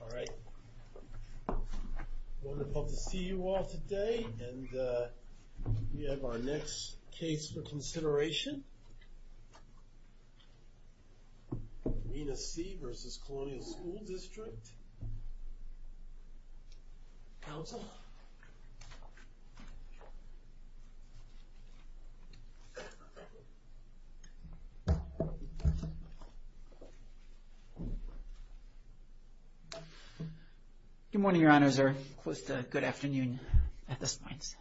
All right, wonderful to see you all today and we have our next case for Good morning, Your Honors, or close to good afternoon at this point.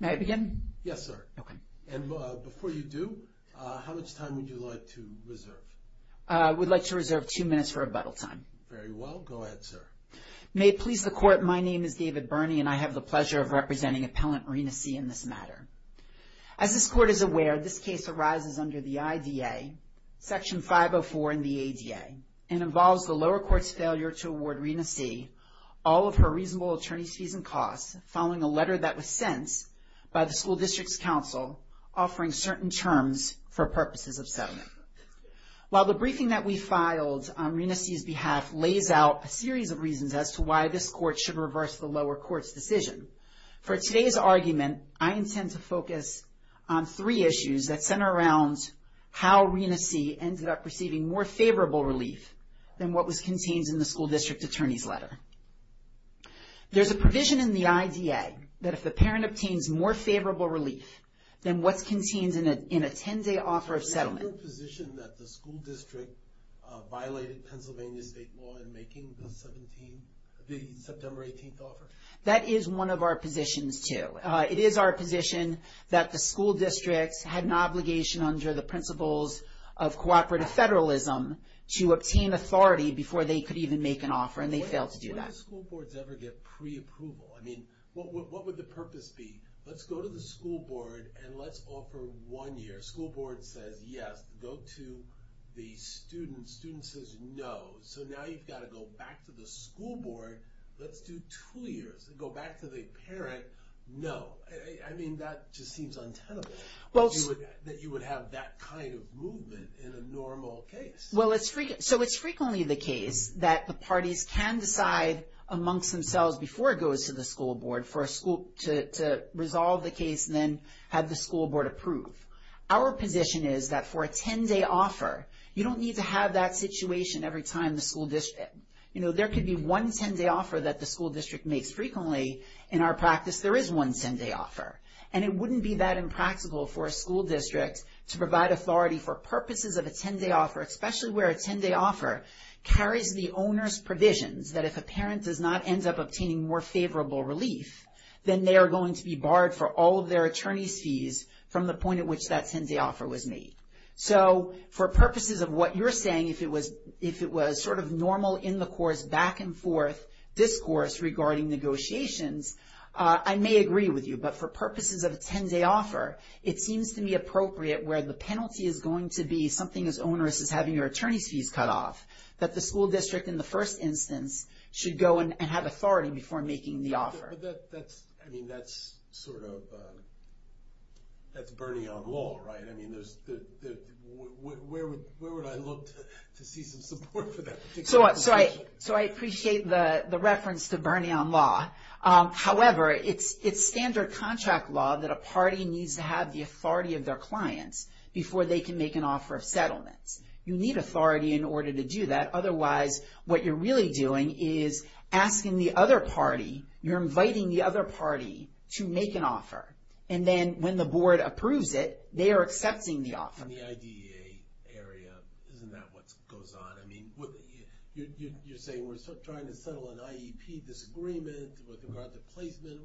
May I begin? Yes, sir. Okay. And before you do, how much time would you like to reserve? We'd like to reserve two minutes for rebuttal time. Very well. Go ahead, sir. May it please the Court, my name is David Birney and I have the pleasure of representing Appellant Marina C. in this matter. As this Court is aware, this case arises under the IDA, Section 504 in the ADA, and involves the lower court's failure to award Marina C. all of her reasonable attorney's fees and costs, following a letter that was sent by the School District's counsel offering certain terms for purposes of settlement. While the briefing that we filed on Marina C.'s behalf lays out a series of reasons as to why this Court should reverse the lower court's decision, for today's argument, I intend to focus on three issues that center around how Marina C. ended up receiving more favorable relief than what was contained in the School District Attorney's letter. There's a provision in the IDA that if the parent obtains more favorable relief than what's contained in a 10-day offer of settlement... Is it your position that the School District violated Pennsylvania State law in making the September 18th offer? That is one of our positions, too. It is our position that the School Districts had an obligation under the principles of cooperative federalism to obtain authority before they could even make an offer, and they failed to do that. When do school boards ever get pre-approval? I mean, what would the purpose be? Let's go to the school board and let's offer one year. School board says yes. Go to the student. Student says no. So now you've got to go back to the school board. Let's do two years. Go back to the parent. No. I mean, that just seems untenable, that you would have that kind of movement in a normal case. Well, so it's frequently the case that the parties can decide amongst themselves before it goes to the school board to resolve the case and then have the school board approve. Our position is that for a 10-day offer, you don't need to have that situation every time the school district... There is one 10-day offer, and it wouldn't be that impractical for a school district to provide authority for purposes of a 10-day offer, especially where a 10-day offer carries the owner's provisions that if a parent does not end up obtaining more favorable relief, then they are going to be barred for all of their attorney's fees from the point at which that 10-day offer was made. So for purposes of what you're saying, if it was sort of normal in-the-course back-and-forth discourse regarding negotiations, I may agree with you, but for purposes of a 10-day offer, it seems to me appropriate where the penalty is going to be something as onerous as having your attorney's fees cut off, that the school district in the first instance should go and have authority before making the offer. But that's... I mean, that's sort of... That's Bernie on law, right? I mean, there's... Where would I look to see some support for that particular situation? So I appreciate the reference to Bernie on law. However, it's standard contract law that a party needs to have the authority of their clients before they can make an offer of settlements. You need authority in order to do that. Otherwise, what you're really doing is asking the other party, you're inviting the other party to make an offer. And then when the board approves it, they are accepting the offer. On the IDEA area, isn't that what goes on? I mean, you're saying we're trying to settle an IEP disagreement with regard to placement.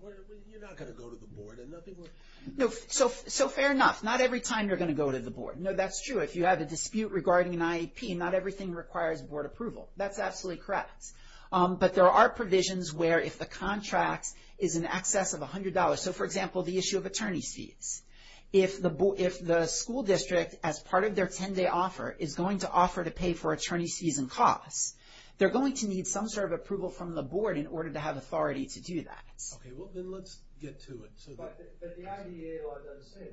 You're not going to go to the board and nothing will... No. So fair enough. Not every time you're going to go to the board. No, that's true. If you have a dispute regarding an IEP, not everything requires board approval. That's absolutely correct. But there are provisions where if the contract is in excess of $100, so for example, the issue of attorney's fees. If the school district, as part of their 10-day offer, is going to offer to pay for attorney's fees and costs, they're going to need some sort of approval from the board in order to have authority to do that. Okay. Well, then let's get to it. But the IDEA law doesn't say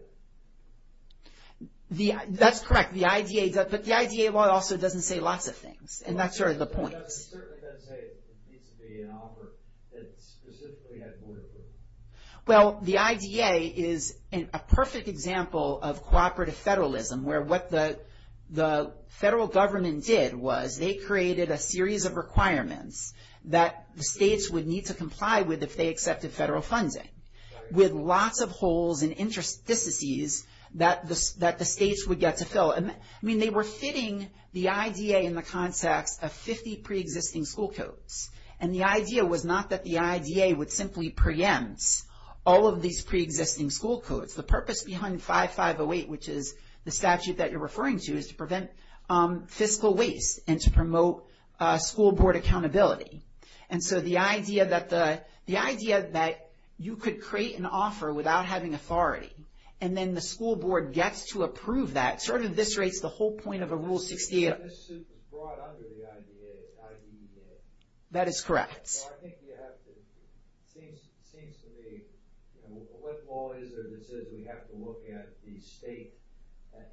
that. That's correct. The IDEA law also doesn't say lots of things. And that's sort of the point. It certainly doesn't say it needs to be an offer that specifically has board approval. Well, the IDEA is a perfect example of cooperative federalism, where what the federal government did was they created a series of requirements that the states would need to comply with if they accepted federal funding, with lots of holes and interstices that the states would get to fill. I mean, they were fitting the IDEA in the context of 50 pre-existing school codes. And the idea was not that the IDEA would simply preempt all of these pre-existing school codes. The purpose behind 5508, which is the statute that you're referring to, is to prevent fiscal waste and to promote school board accountability. And so the idea that you could create an offer without having authority, and then the school board gets to approve that, sort of eviscerates the whole point of a Rule 68. This suit was brought under the IDEA. That is correct. I think you have to, it seems to me, what law is there that says we have to look at the state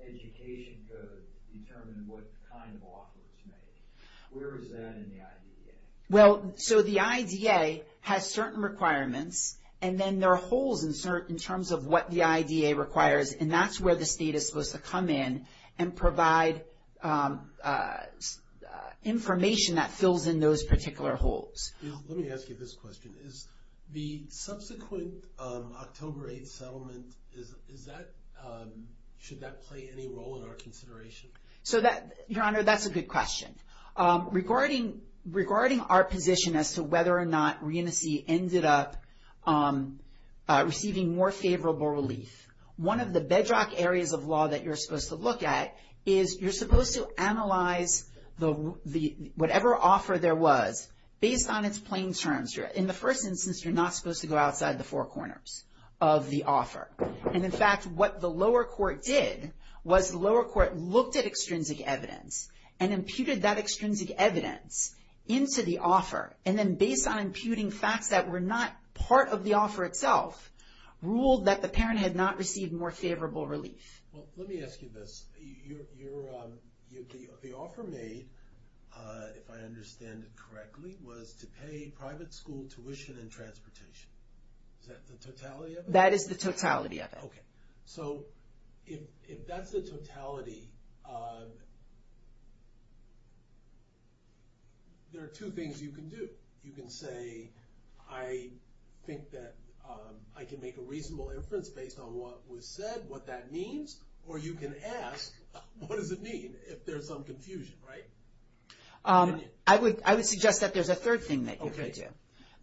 education code to determine what kind of offer is made? Where is that in the IDEA? Well, so the IDEA has certain requirements, and then there are holes in terms of what the IDEA requires. And that's where the state is supposed to come in and provide information that fills in those particular holes. Let me ask you this question. Is the subsequent October 8th settlement, is that, should that play any role in our consideration? So that, Your Honor, that's a good question. Regarding our position as to whether or not Reunicy ended up receiving more favorable relief, one of the bedrock areas of law that you're supposed to look at is you're supposed to analyze whatever offer there was based on its plain terms. In the first instance, you're not supposed to go outside the four corners of the offer. And in fact, what the lower court did was the lower court looked at extrinsic evidence and imputed that extrinsic evidence into the offer. And then based on imputing facts that were not part of the offer itself, ruled that the parent had not received more favorable relief. Well, let me ask you this. The offer made, if I understand it correctly, was to pay private school tuition and transportation. Is that the totality of it? That is the totality of it. Okay. So if that's the totality, there are two things you can do. You can say, I think that I can make a reasonable inference based on what was said, what that means, or you can ask, what does it mean if there's some confusion, right? I would suggest that there's a third thing that you could do.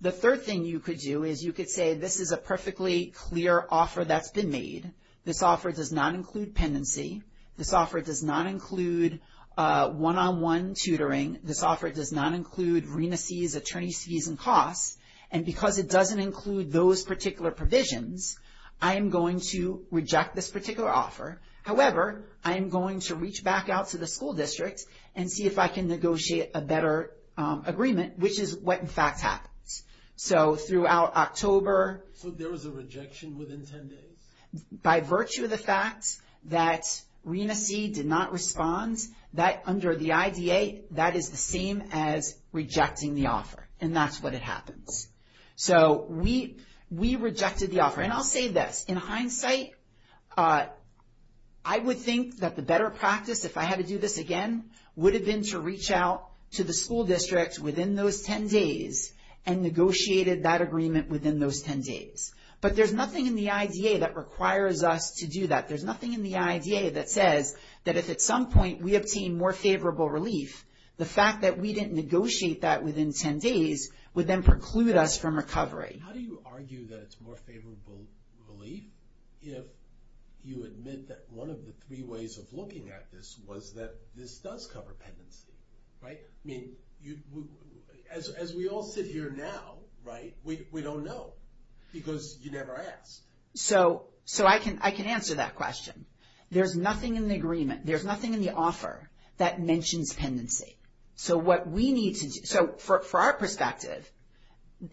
The third thing you could do is you could say, this is a perfectly clear offer that's been made. This offer does not include pendency. This offer does not include one-on-one tutoring. This offer does not include RENAC's attorney's fees and costs. And because it doesn't include those particular provisions, I am going to reject this particular offer. However, I am going to reach back out to the school district and see if I can negotiate a better agreement, which is what in fact happens. So throughout October. So there was a rejection within 10 days? By virtue of the fact that RENAC did not respond, that under the IDA, that is the same as rejecting the offer. And that's what happens. So we rejected the offer. And I'll say this. In hindsight, I would think that the better practice, if I had to do this again, would have been to reach out to the school district within those 10 days and negotiated that agreement within those 10 days. But there's nothing in the IDA that requires us to do that. There's nothing in the IDA that says that if at some point we obtain more favorable relief, the fact that we didn't negotiate that within 10 days would then preclude us from recovery. How do you argue that it's more favorable relief if you admit that one of the three ways of looking at this was that this does cover penancy? Right? I mean, as we all sit here now, right, we don't know. Because you never asked. So I can answer that question. There's nothing in the agreement, there's nothing in the offer that mentions penancy. So what we need to do, so for our perspective,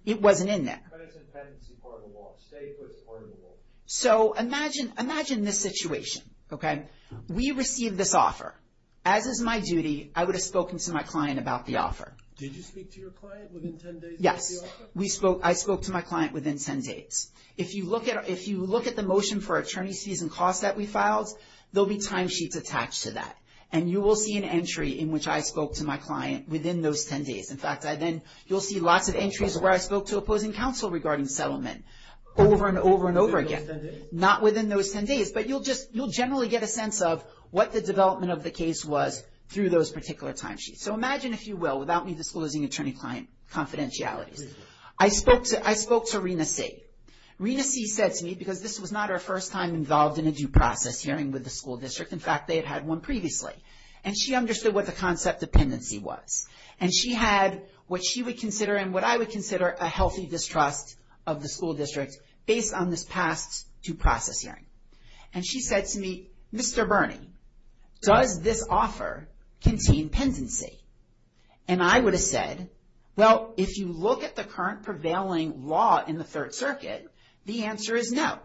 it wasn't in there. But it's a penancy part of the law. Statehood's part of the law. So imagine this situation, okay? We received this offer. As is my duty, I would have spoken to my client about the offer. Did you speak to your client within 10 days about the offer? Yes. I spoke to my client within 10 days. If you look at the motion for attorney's fees and costs that we filed, there'll be timesheets attached to that. And you will see an entry in which I spoke to my client within those 10 days. In fact, you'll see lots of entries where I spoke to opposing counsel regarding settlement. Over and over and over again. Not within those 10 days. But you'll generally get a sense of what the development of the case was through those particular timesheets. So imagine, if you will, without me disclosing attorney-client confidentialities. I spoke to Rena See. Rena See said to me, because this was not her first time involved in a due process hearing with the school district. In fact, they had had one previously. And she understood what the concept of pendency was. And she had what she would consider and what I would consider a healthy distrust of the school district based on this past due process hearing. And she said to me, Mr. Bernie, does this offer contain pendency? And I would have said, well, if you look at the current prevailing law in the Third Circuit, the answer is no.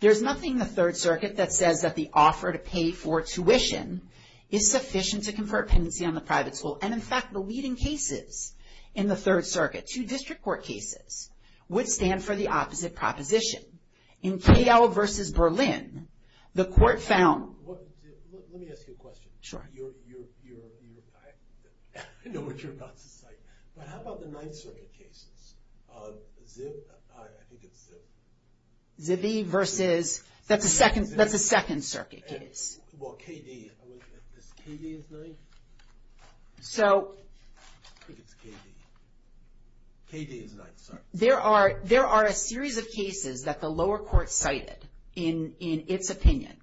There's nothing in the Third Circuit that says that the offer to pay for tuition is sufficient to confer pendency on the private school. And in fact, the leading cases in the Third Circuit, two district court cases, would stand for the opposite proposition. In KL versus Berlin, the court found. Let me ask you a question. Sure. You're, you're, you're, I know what you're about to cite. But how about the Ninth Circuit cases? Zib, I think it's Zib. Zibby versus, that's a second, that's a Second Circuit case. Well, KD, is KD his ninth? So. I think it's KD. KD is ninth, sorry. There are, there are a series of cases that the lower court cited in, in its opinion.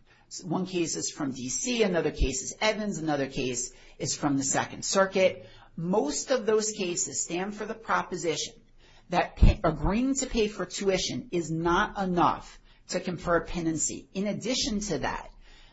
One case is from DC, another case is Evans, another case is from the Second Circuit. Most of those cases stand for the proposition that agreeing to pay for tuition is not enough to confer pendency. In addition to that,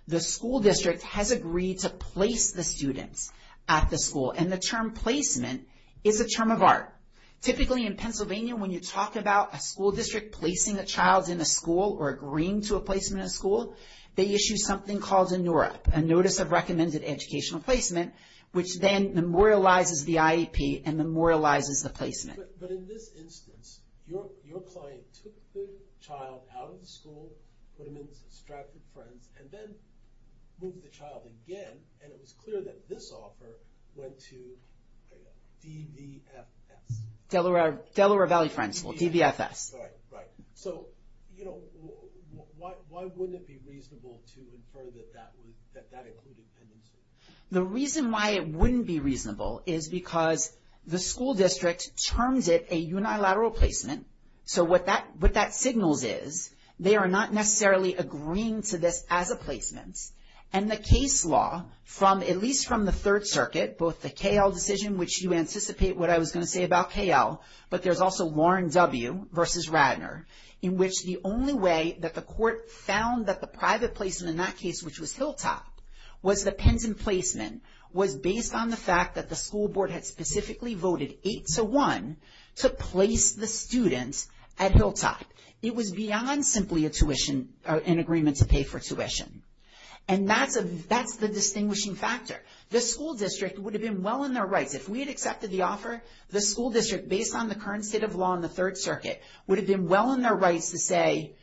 the school district has agreed to place the students at the school. And the term placement is a term of art. Typically in Pennsylvania, when you talk about a school district placing a child in a school or agreeing to a placement in a school, they issue something called a NURAP, a Notice of Recommended Educational Placement, which then memorializes the IEP and memorializes the placement. But, but in this instance, your, your client took the child out of the school, put him in with his distracted friends, and then moved the child again. And it was clear that this offer went to DVFS. Delaware, Delaware Valley Friends School, DVFS. Right, right. So, you know, why, why wouldn't it be reasonable to infer that that would, that that included pendency? The reason why it wouldn't be reasonable is because the school district terms it a unilateral placement. So what that, what that signals is, they are not necessarily agreeing to this as a placement. And the case law from, at least from the Third Circuit, both the KL decision, which you anticipate what I was going to say about KL, but there's also Lauren W. versus Radner, in which the only way that the court found that the private placement in that case, which was Hilltop, was the pendant placement, was based on the fact that the school board had specifically voted 8-1 to place the student at Hilltop. It was beyond simply a tuition, an agreement to pay for tuition. And that's a, that's the distinguishing factor. The school district would have been well in their rights. If we had accepted the offer, the school district, based on the current state of law in the Third Circuit, would have been well in their rights to say,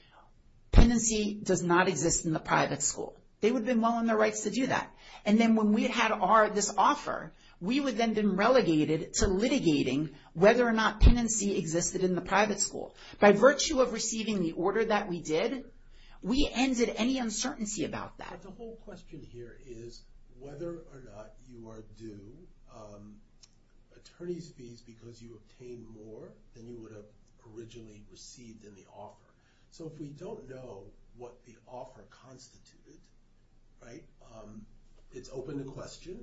pendency does not exist in the private school. They would have been well in their rights to do that. And then when we had our, this offer, we would then have been relegated to litigating whether or not pendency existed in the private school. By virtue of receiving the order that we did, we ended any uncertainty about that. So the whole question here is whether or not you are due attorney's fees because you obtained more than you would have originally received in the offer. So if we don't know what the offer constituted, right, it's open to question.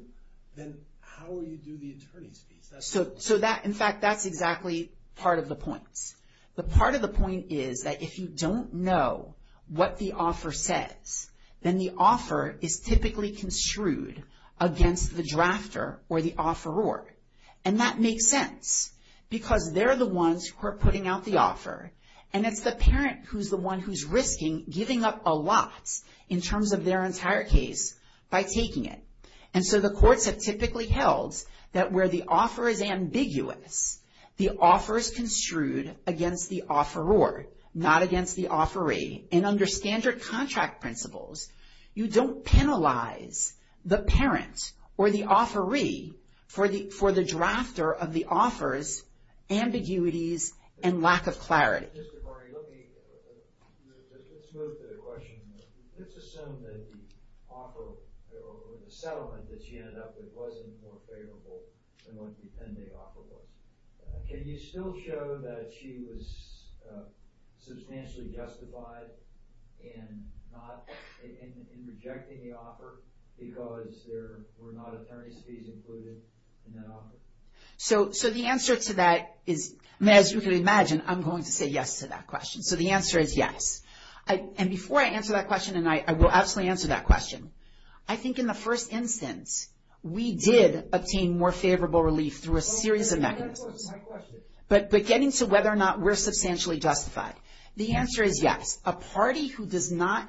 Then how will you do the attorney's fees? So that, in fact, that's exactly part of the point. The part of the point is that if you don't know what the offer says, then the offer is typically construed against the drafter or the offeror. And that makes sense because they're the ones who are putting out the offer. And it's the parent who's the one who's risking giving up a lot in terms of their entire case by taking it. And so the courts have typically held that where the offer is ambiguous, the offer is construed against the offeror, not against the offeree. And under standard contract principles, you don't penalize the parent or the offeree for the drafter of the offer's ambiguities and lack of clarity. Let's move to the question. Let's assume that the offer or the settlement that she ended up with wasn't more favorable than what the pending offer was. Can you still show that she was substantially justified in rejecting the offer because there were not attorney's fees included in that offer? So the answer to that is, as you can imagine, I'm going to say yes to that question. So the answer is yes. And before I answer that question, and I will absolutely answer that question, I think in the first instance, we did obtain more favorable relief through a series of mechanisms. But getting to whether or not we're substantially justified, the answer is yes. A party who is not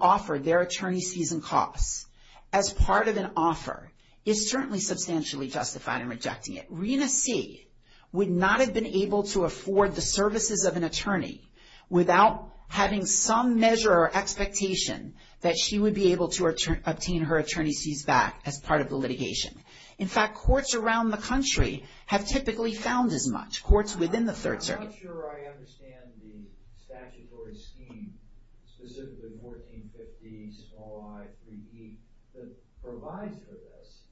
offered their attorney's fees and costs as part of an offer is certainly substantially justified in rejecting it. Rena C. would not have been able to afford the services of an attorney without having some measure or expectation that she would be able to obtain her attorney's fees back as part of the litigation. In fact, courts around the country have typically found as much, courts within the Third Circuit. I'm not sure I understand the statutory scheme, specifically 1450, small i, 3E, that provides for this,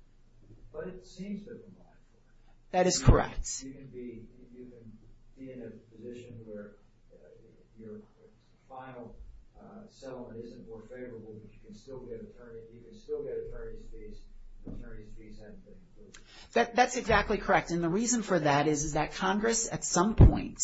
but it seems to provide for that. That is correct. You can be in a position where your final settlement isn't more favorable, but you can still get attorney's fees, attorney's fees and things. That's exactly correct. And the reason for that is that Congress at some point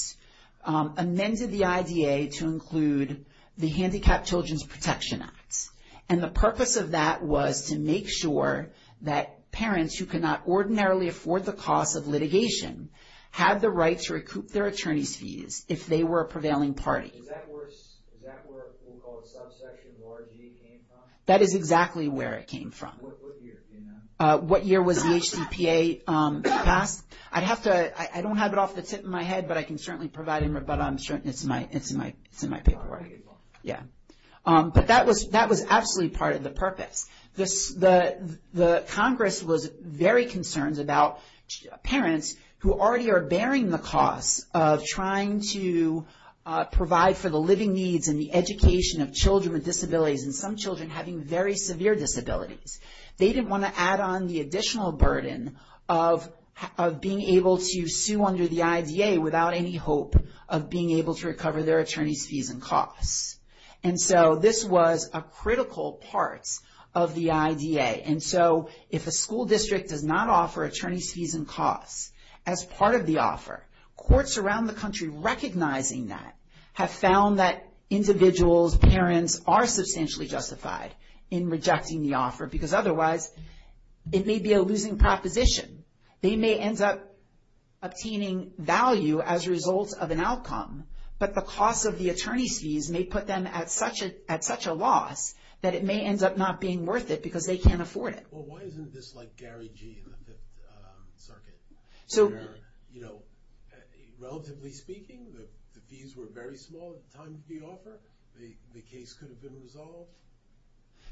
amended the IDA to include the Handicapped Children's Protection Act. And the purpose of that was to make sure that parents who cannot ordinarily afford the cost of litigation had the right to recoup their attorney's fees if they were a prevailing party. Is that where we'll call it subsection of RG came from? That is exactly where it came from. What year, do you know? What year was the HDPA passed? I don't have it off the tip of my head, but I can certainly provide it, but it's in my paperwork. Yeah. But that was absolutely part of the purpose. The Congress was very concerned about parents who already are bearing the cost of trying to provide for the living needs and the education of children with disabilities, and some children having very severe disabilities. They didn't want to add on the additional burden of being able to sue under the IDA without any hope of being able to recover their attorney's fees and costs. And so this was a critical part of the IDA. And so if a school district does not offer attorney's fees and costs as part of the offer, courts around the country recognizing that have found that because otherwise it may be a losing proposition. They may end up obtaining value as a result of an outcome, but the cost of the attorney's fees may put them at such a loss that it may end up not being worth it because they can't afford it. Well, why isn't this like Gary G. in the Fifth Circuit? You know, relatively speaking, the fees were very small at the time of the offer. The case could have been resolved.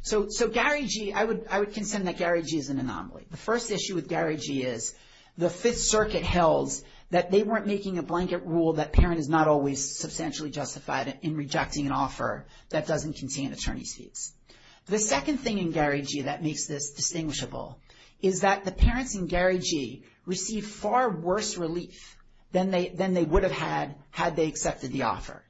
So Gary G., I would consent that Gary G. is an anomaly. The first issue with Gary G. is the Fifth Circuit held that they weren't making a blanket rule that parent is not always substantially justified in rejecting an offer that doesn't contain attorney's fees. The second thing in Gary G. that makes this distinguishable is that the parents in Gary G. received far worse relief than they would have had had they accepted the offer.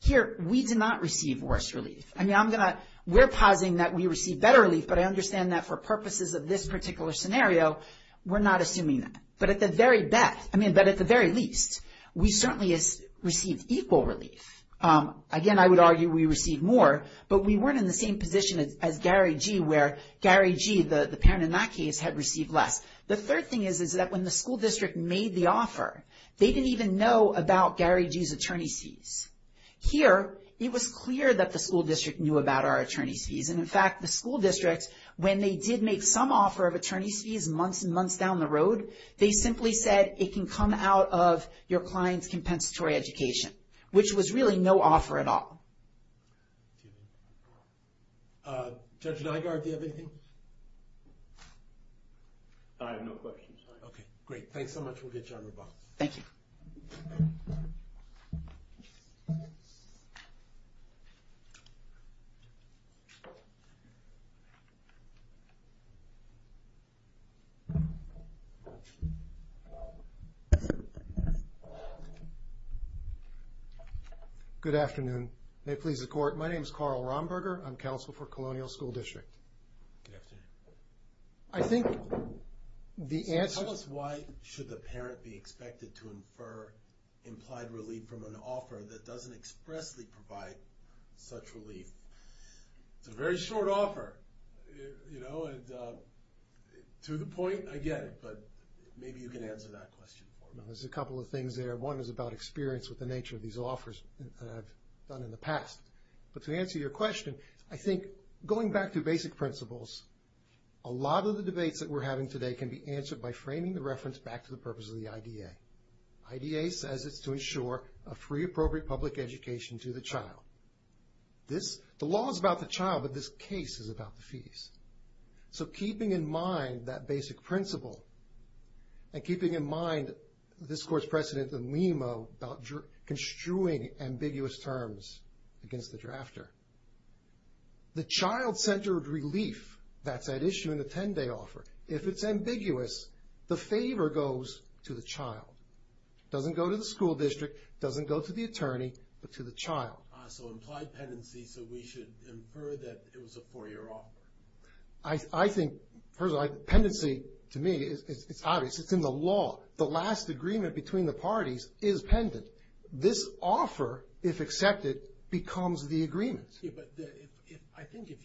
Here, we did not receive worse relief. I mean, I'm going to – we're positing that we received better relief, but I understand that for purposes of this particular scenario, we're not assuming that. But at the very least, we certainly received equal relief. Again, I would argue we received more, but we weren't in the same position as Gary G. where Gary G., the parent in that case, had received less. The third thing is that when the school district made the offer, they didn't even know about Gary G.'s attorney's fees. Here, it was clear that the school district knew about our attorney's fees. And, in fact, the school district, when they did make some offer of attorney's fees months and months down the road, they simply said, it can come out of your client's compensatory education, which was really no offer at all. Judge Nygard, do you have anything? I have no questions. Okay, great. Thanks so much. We'll get you on your bus. Thank you. Thank you. Good afternoon. May it please the court, my name is Carl Romberger. I'm counsel for Colonial School District. Good afternoon. I think the answer... So, tell us why should the parent be expected to infer implied relief from an offer that doesn't expressly provide such relief? It's a very short offer, you know, and to the point, I get it. But maybe you can answer that question for me. There's a couple of things there. One is about experience with the nature of these offers that I've done in the past. But to answer your question, I think going back to basic principles, a lot of the debates that we're having today can be answered by framing the reference back to the purpose of the IDA. IDA says it's to ensure a free, appropriate public education to the child. The law is about the child, but this case is about the fees. So, keeping in mind that basic principle, and keeping in mind this court's precedent in Lima about construing ambiguous terms against the drafter, the child-centered relief that's at issue in the 10-day offer, if it's ambiguous, the favor goes to the child. It doesn't go to the school district. It doesn't go to the attorney, but to the child. So, implied pendency, so we should infer that it was a four-year offer. I think, personally, pendency, to me, it's obvious. It's in the law. The last agreement between the parties is pendent. This offer, if accepted, becomes the agreement. I think if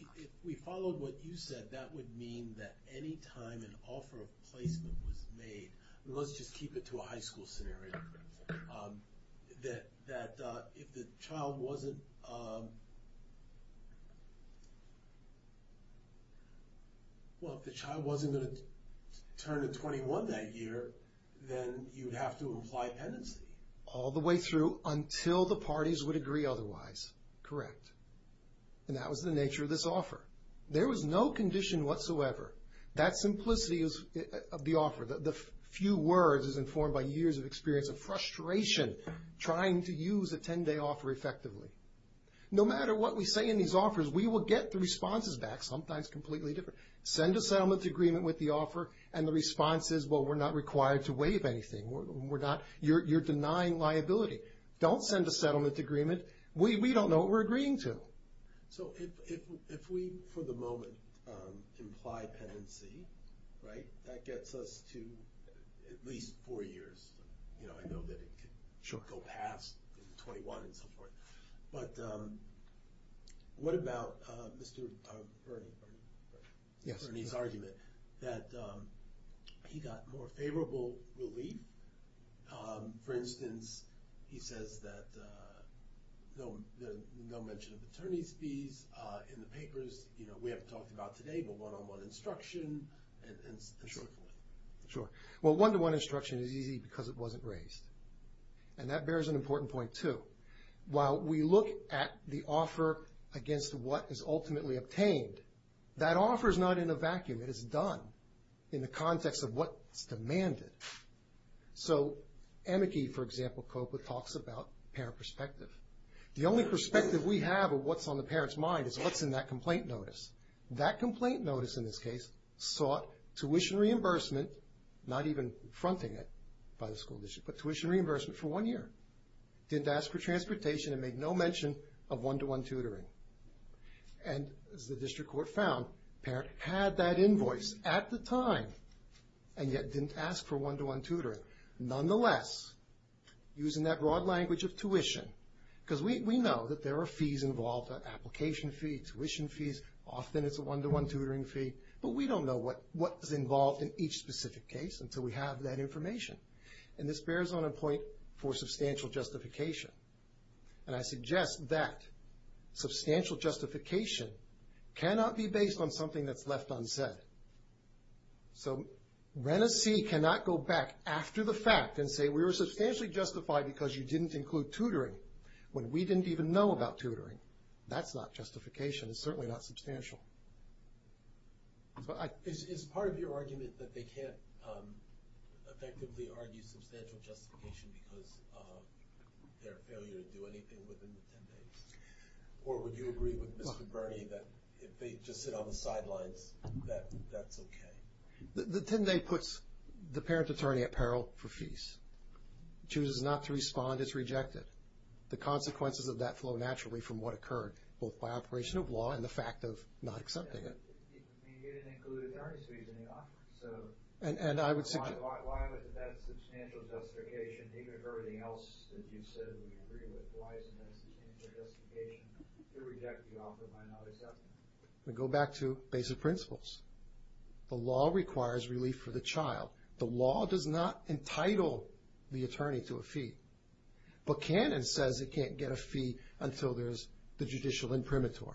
we followed what you said, that would mean that any time an offer of placement was made, let's just keep it to a high school scenario, that if the child wasn't going to turn to 21 that year, then you'd have to imply pendency. All the way through until the parties would agree otherwise. Correct. And that was the nature of this offer. There was no condition whatsoever. That simplicity of the offer, the few words is informed by years of experience and frustration trying to use a 10-day offer effectively. No matter what we say in these offers, we will get the responses back, sometimes completely different. Send a settlement agreement with the offer, and the response is, well, we're not required to waive anything. You're denying liability. Don't send a settlement agreement. We don't know what we're agreeing to. So if we, for the moment, imply pendency, that gets us to at least four years. I know that it could go past 21 and so forth. But what about Mr. Bernie's argument that he got more favorable relief? For instance, he says that no mention of attorney's fees in the papers. We haven't talked about today, but one-on-one instruction and so forth. Sure. Well, one-to-one instruction is easy because it wasn't raised. And that bears an important point, too. While we look at the offer against what is ultimately obtained, that offer is not in a vacuum. It is done in the context of what's demanded. So Amici, for example, COPA talks about parent perspective. The only perspective we have of what's on the parent's mind is what's in that complaint notice. That complaint notice, in this case, sought tuition reimbursement, not even fronting it by the school district, but tuition reimbursement for one year. Didn't ask for transportation and made no mention of one-to-one tutoring. And as the district court found, parent had that invoice at the time and yet didn't ask for one-to-one tutoring. Nonetheless, using that broad language of tuition, because we know that there are fees involved, application fees, tuition fees, often it's a one-to-one tutoring fee, but we don't know what is involved in each specific case until we have that information. And this bears on a point for substantial justification. And I suggest that substantial justification cannot be based on something that's left unsaid. So Renecy cannot go back after the fact and say, we were substantially justified because you didn't include tutoring when we didn't even know about tutoring. That's not justification. It's certainly not substantial. Is part of your argument that they can't effectively argue substantial justification because of their failure to do anything within the 10 days? Or would you agree with Mr. Birney that if they just sit on the sidelines, that that's okay? The 10 day puts the parent attorney at peril for fees. Chooses not to respond is rejected. The consequences of that flow naturally from what occurred, both by operation of law and the fact of not accepting it. And you didn't include attorney's fees in the offer. So why would that substantial justification, even if everything else that you've said we agree with, why isn't that substantial justification to reject the offer by not accepting it? We go back to basic principles. The law requires relief for the child. The law does not entitle the attorney to a fee. But Canon says it can't get a fee until there's the judicial imprimatur.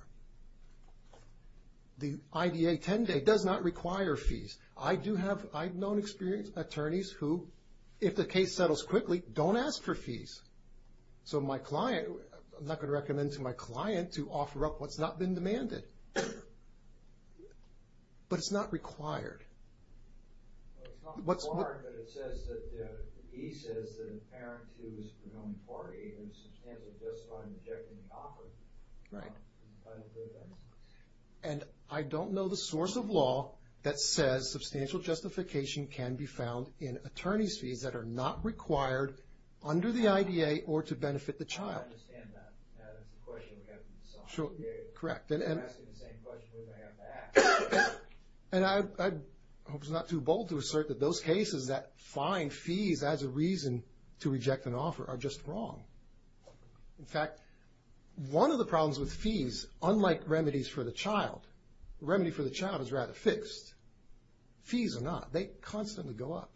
The IDA 10 day does not require fees. I do have, I've known experienced attorneys who, if the case settles quickly, don't ask for fees. So my client, I'm not going to recommend to my client to offer up what's not been demanded. But it's not required. It's not required, but it says that, he says that a parent who is a known party and is substantial justified in rejecting the offer. Right. And I don't know the source of law that says substantial justification can be found in attorney's fees that are not required under the IDA or to benefit the child. I don't understand that. That's a question we have to decide. Correct. We're asking the same question we're going to have to ask. And I hope it's not too bold to assert that those cases that find fees as a reason to reject an offer are just wrong. In fact, one of the problems with fees, unlike remedies for the child, the remedy for the child is rather fixed. Fees are not. They constantly go up.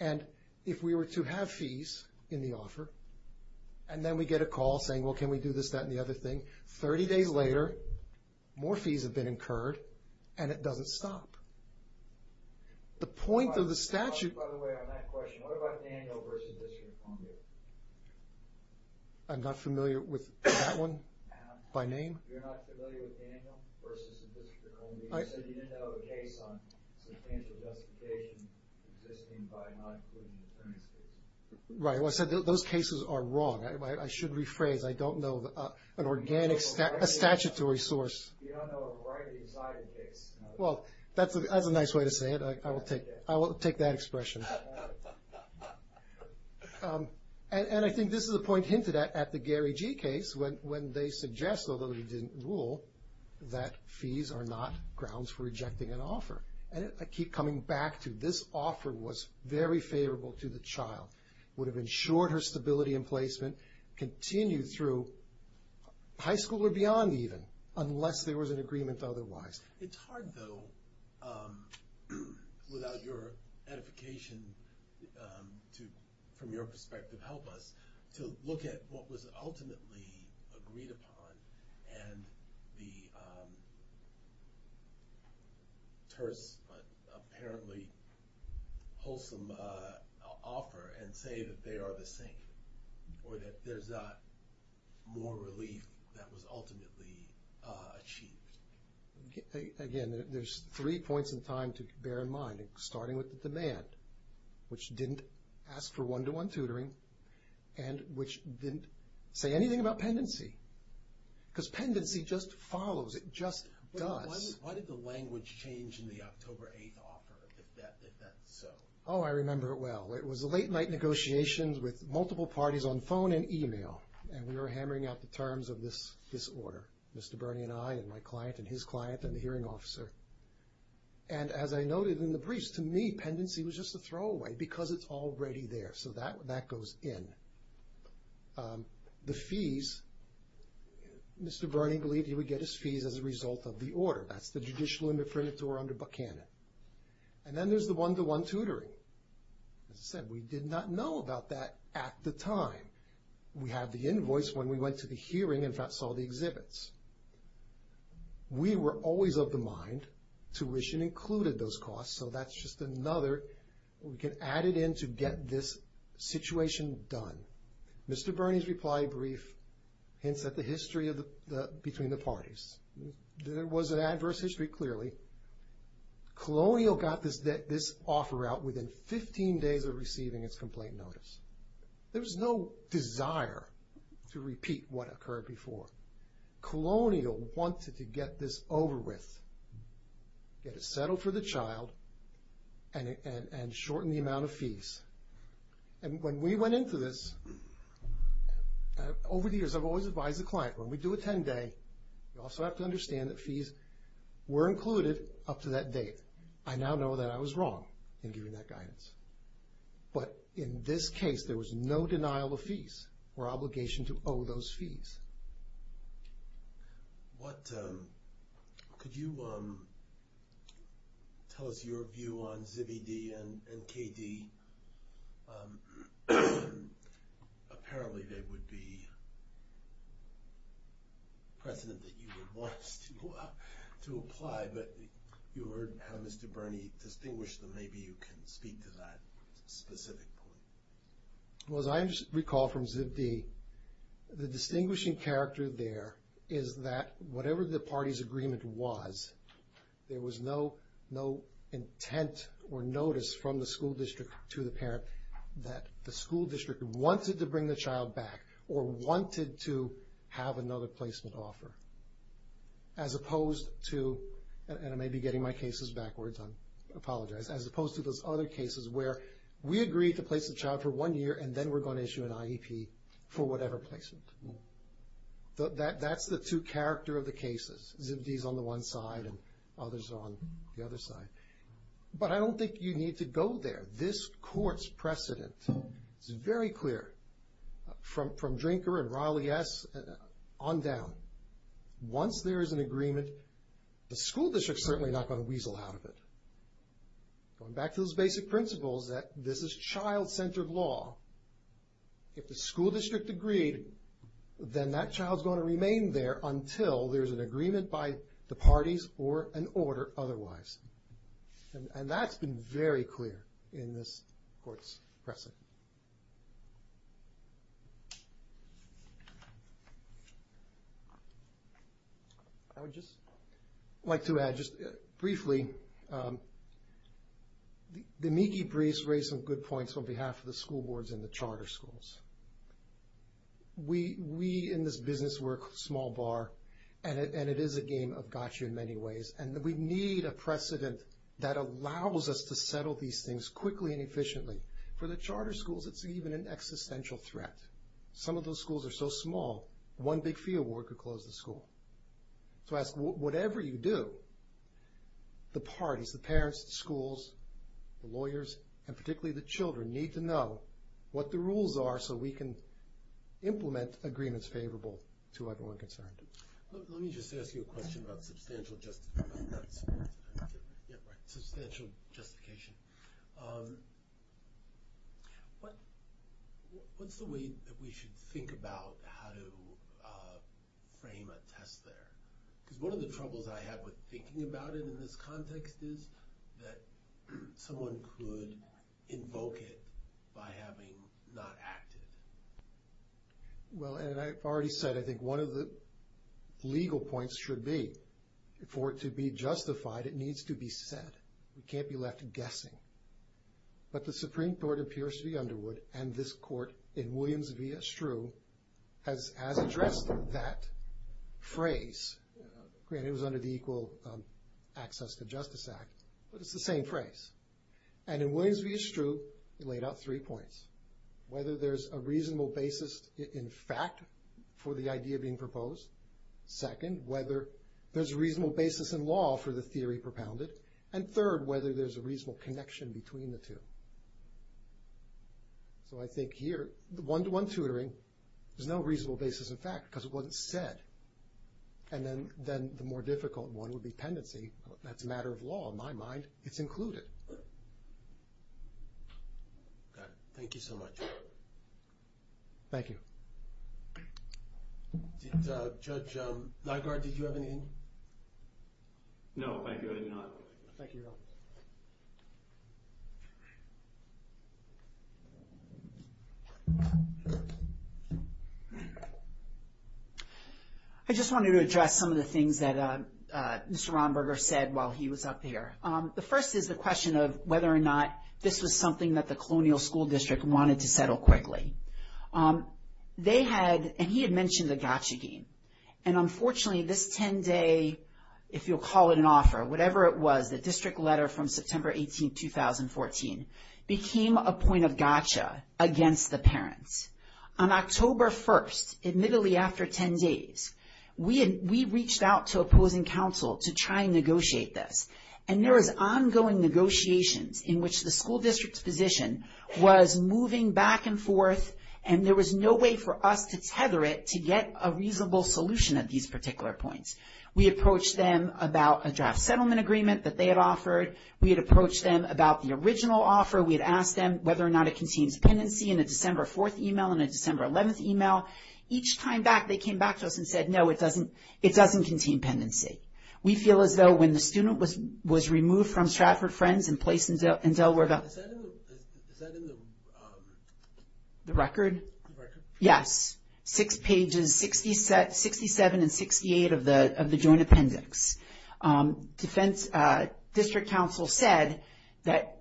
And if we were to have fees in the offer, and then we get a call saying, well, can we do this, that, and the other thing, 30 days later, more fees have been incurred, and it doesn't stop. The point of the statute... By the way, on that question, what about Daniel versus the District of Columbia? I'm not familiar with that one by name. You're not familiar with Daniel versus the District of Columbia? You said you didn't know the case on substantial justification existing by not including attorney's fees. Right. I said those cases are wrong. I should rephrase. I don't know an organic statutory source. You don't know a variety of cited cases. Well, that's a nice way to say it. I will take that expression. And I think this is a point hinted at at the Gary G case when they suggest, although they didn't rule, that fees are not grounds for rejecting an offer. And I keep coming back to this offer was very favorable to the child, would have ensured her stability in placement, continued through high school or beyond even, unless there was an agreement otherwise. It's hard, though, without your edification, from your perspective, help us, to look at what was ultimately agreed upon and the terse but apparently wholesome offer and say that they are the same or that there's not more relief that was ultimately achieved. Again, there's three points in time to bear in mind, starting with the demand, which didn't ask for one-to-one tutoring and which didn't say anything about pendency because pendency just follows. It just does. Why did the language change in the October 8th offer if that's so? Oh, I remember it well. It was a late-night negotiation with multiple parties on phone and email, and we were hammering out the terms of this order, Mr. Burney and I and my client and his client and the hearing officer. And as I noted in the briefs, to me, pendency was just a throwaway because it's already there, so that goes in. The fees, Mr. Burney believed he would get his fees as a result of the order. That's the Judicial Indefinitor under Buchanan. And then there's the one-to-one tutoring. As I said, we did not know about that at the time. We had the invoice when we went to the hearing and saw the exhibits. We were always of the mind, tuition included those costs, so that's just another. We can add it in to get this situation done. Mr. Burney's reply brief hints at the history between the parties. There was an adverse history, clearly. Colonial got this offer out within 15 days of receiving its complaint notice. There was no desire to repeat what occurred before. Colonial wanted to get this over with, get it settled for the child, and shorten the amount of fees. And when we went into this, over the years, I've always advised the client, when we do a 10-day, you also have to understand that fees were included up to that date. I now know that I was wrong in giving that guidance. But in this case, there was no denial of fees or obligation to owe those fees. What, could you tell us your view on ZBD and KD? Apparently, there would be precedent that you would want us to apply, but you heard how Mr. Burney distinguished them. Maybe you can speak to that specific point. Well, as I recall from ZBD, the distinguishing character there is that whatever the party's agreement was, there was no intent or notice from the school district to the parent that the school district wanted to bring the child back or wanted to have another placement offer, as opposed to, and I may be getting my cases backwards, I apologize, as opposed to those other cases where we agreed to place the child for one year and then we're going to issue an IEP for whatever placement. That's the two character of the cases. ZBD's on the one side and others are on the other side. But I don't think you need to go there. This court's precedent is very clear from Drinker and Riley S. on down. Once there is an agreement, the school district's certainly not going to weasel out of it. Going back to those basic principles that this is child-centered law. If the school district agreed, then that child's going to remain there until there's an agreement by the parties or an order otherwise. And that's been very clear in this court's precedent. I would just like to add, just briefly, the Miki briefs raise some good points on behalf of the school boards and the charter schools. We in this business work small bar, and it is a game of gotcha in many ways, and we need a precedent that allows us to settle these things quickly and efficiently. For the charter schools, it's even an existential threat. Some of those schools are so small, one big fee award could close the school. So I ask, whatever you do, the parties, the parents, the schools, the lawyers, and particularly the children, need to know what the rules are so we can implement agreements favorable to everyone concerned. Let me just ask you a question about substantial justification. What's the way that we should think about how to frame a test there? Because one of the troubles I have with thinking about it in this context is that someone could invoke it by having not acted. Well, and I've already said, I think one of the legal points should be, for it to be justified, it needs to be said. We can't be left guessing. But the Supreme Court in Pierce v. Underwood, and this court in Williams v. Estrue, has addressed that phrase. Granted, it was under the Equal Access to Justice Act, but it's the same phrase. And in Williams v. Estrue, it laid out three points. Whether there's a reasonable basis in fact for the idea being proposed. Second, whether there's a reasonable basis in law for the theory propounded. And third, whether there's a reasonable connection between the two. So I think here, one-to-one tutoring is no reasonable basis in fact, because it wasn't said. And then the more difficult one would be pendency. That's a matter of law in my mind. It's included. Thank you so much. Thank you. Judge Nygaard, did you have anything? No, thank you. I did not. Thank you. I just wanted to address some of the things that Mr. Romberger said while he was up here. The first is the question of whether or not this was something that the Colonial School District wanted to settle quickly. They had, and he had mentioned the gotcha game. And unfortunately, this 10-day, if you'll call it an offer, whatever it was, the district letter from September 18, 2014, became a point of gotcha against the parents. On October 1st, admittedly after 10 days, we reached out to opposing counsel to try and negotiate this. And there was ongoing negotiations in which the school district's position was moving back and forth, and there was no way for us to tether it to get a reasonable solution at these particular points. We approached them about a draft settlement agreement that they had offered. We had approached them about the original offer. We had asked them whether or not it contains pendency in a December 4th email and a December 11th email. Each time back, they came back to us and said, no, it doesn't contain pendency. We feel as though when the student was removed from Stratford Friends and placed in Delaware Valley. Is that in the record? The record? Yes. Six pages, 67 and 68 of the joint appendix. District counsel said that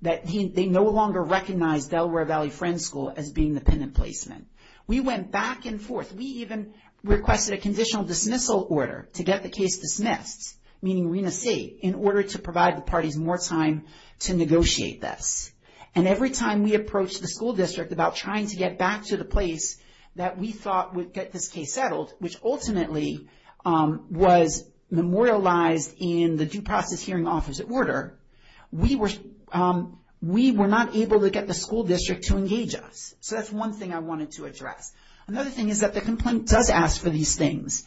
they no longer recognized Delaware Valley Friends School as being dependent placement. We went back and forth. We even requested a conditional dismissal order to get the case dismissed, meaning re-nascite, in order to provide the parties more time to negotiate this. And every time we approached the school district about trying to get back to the place that we thought would get this case settled, which ultimately was memorialized in the due process hearing offers at order, we were not able to get the school district to engage us. So that's one thing I wanted to address. Another thing is that the complaint does ask for these things.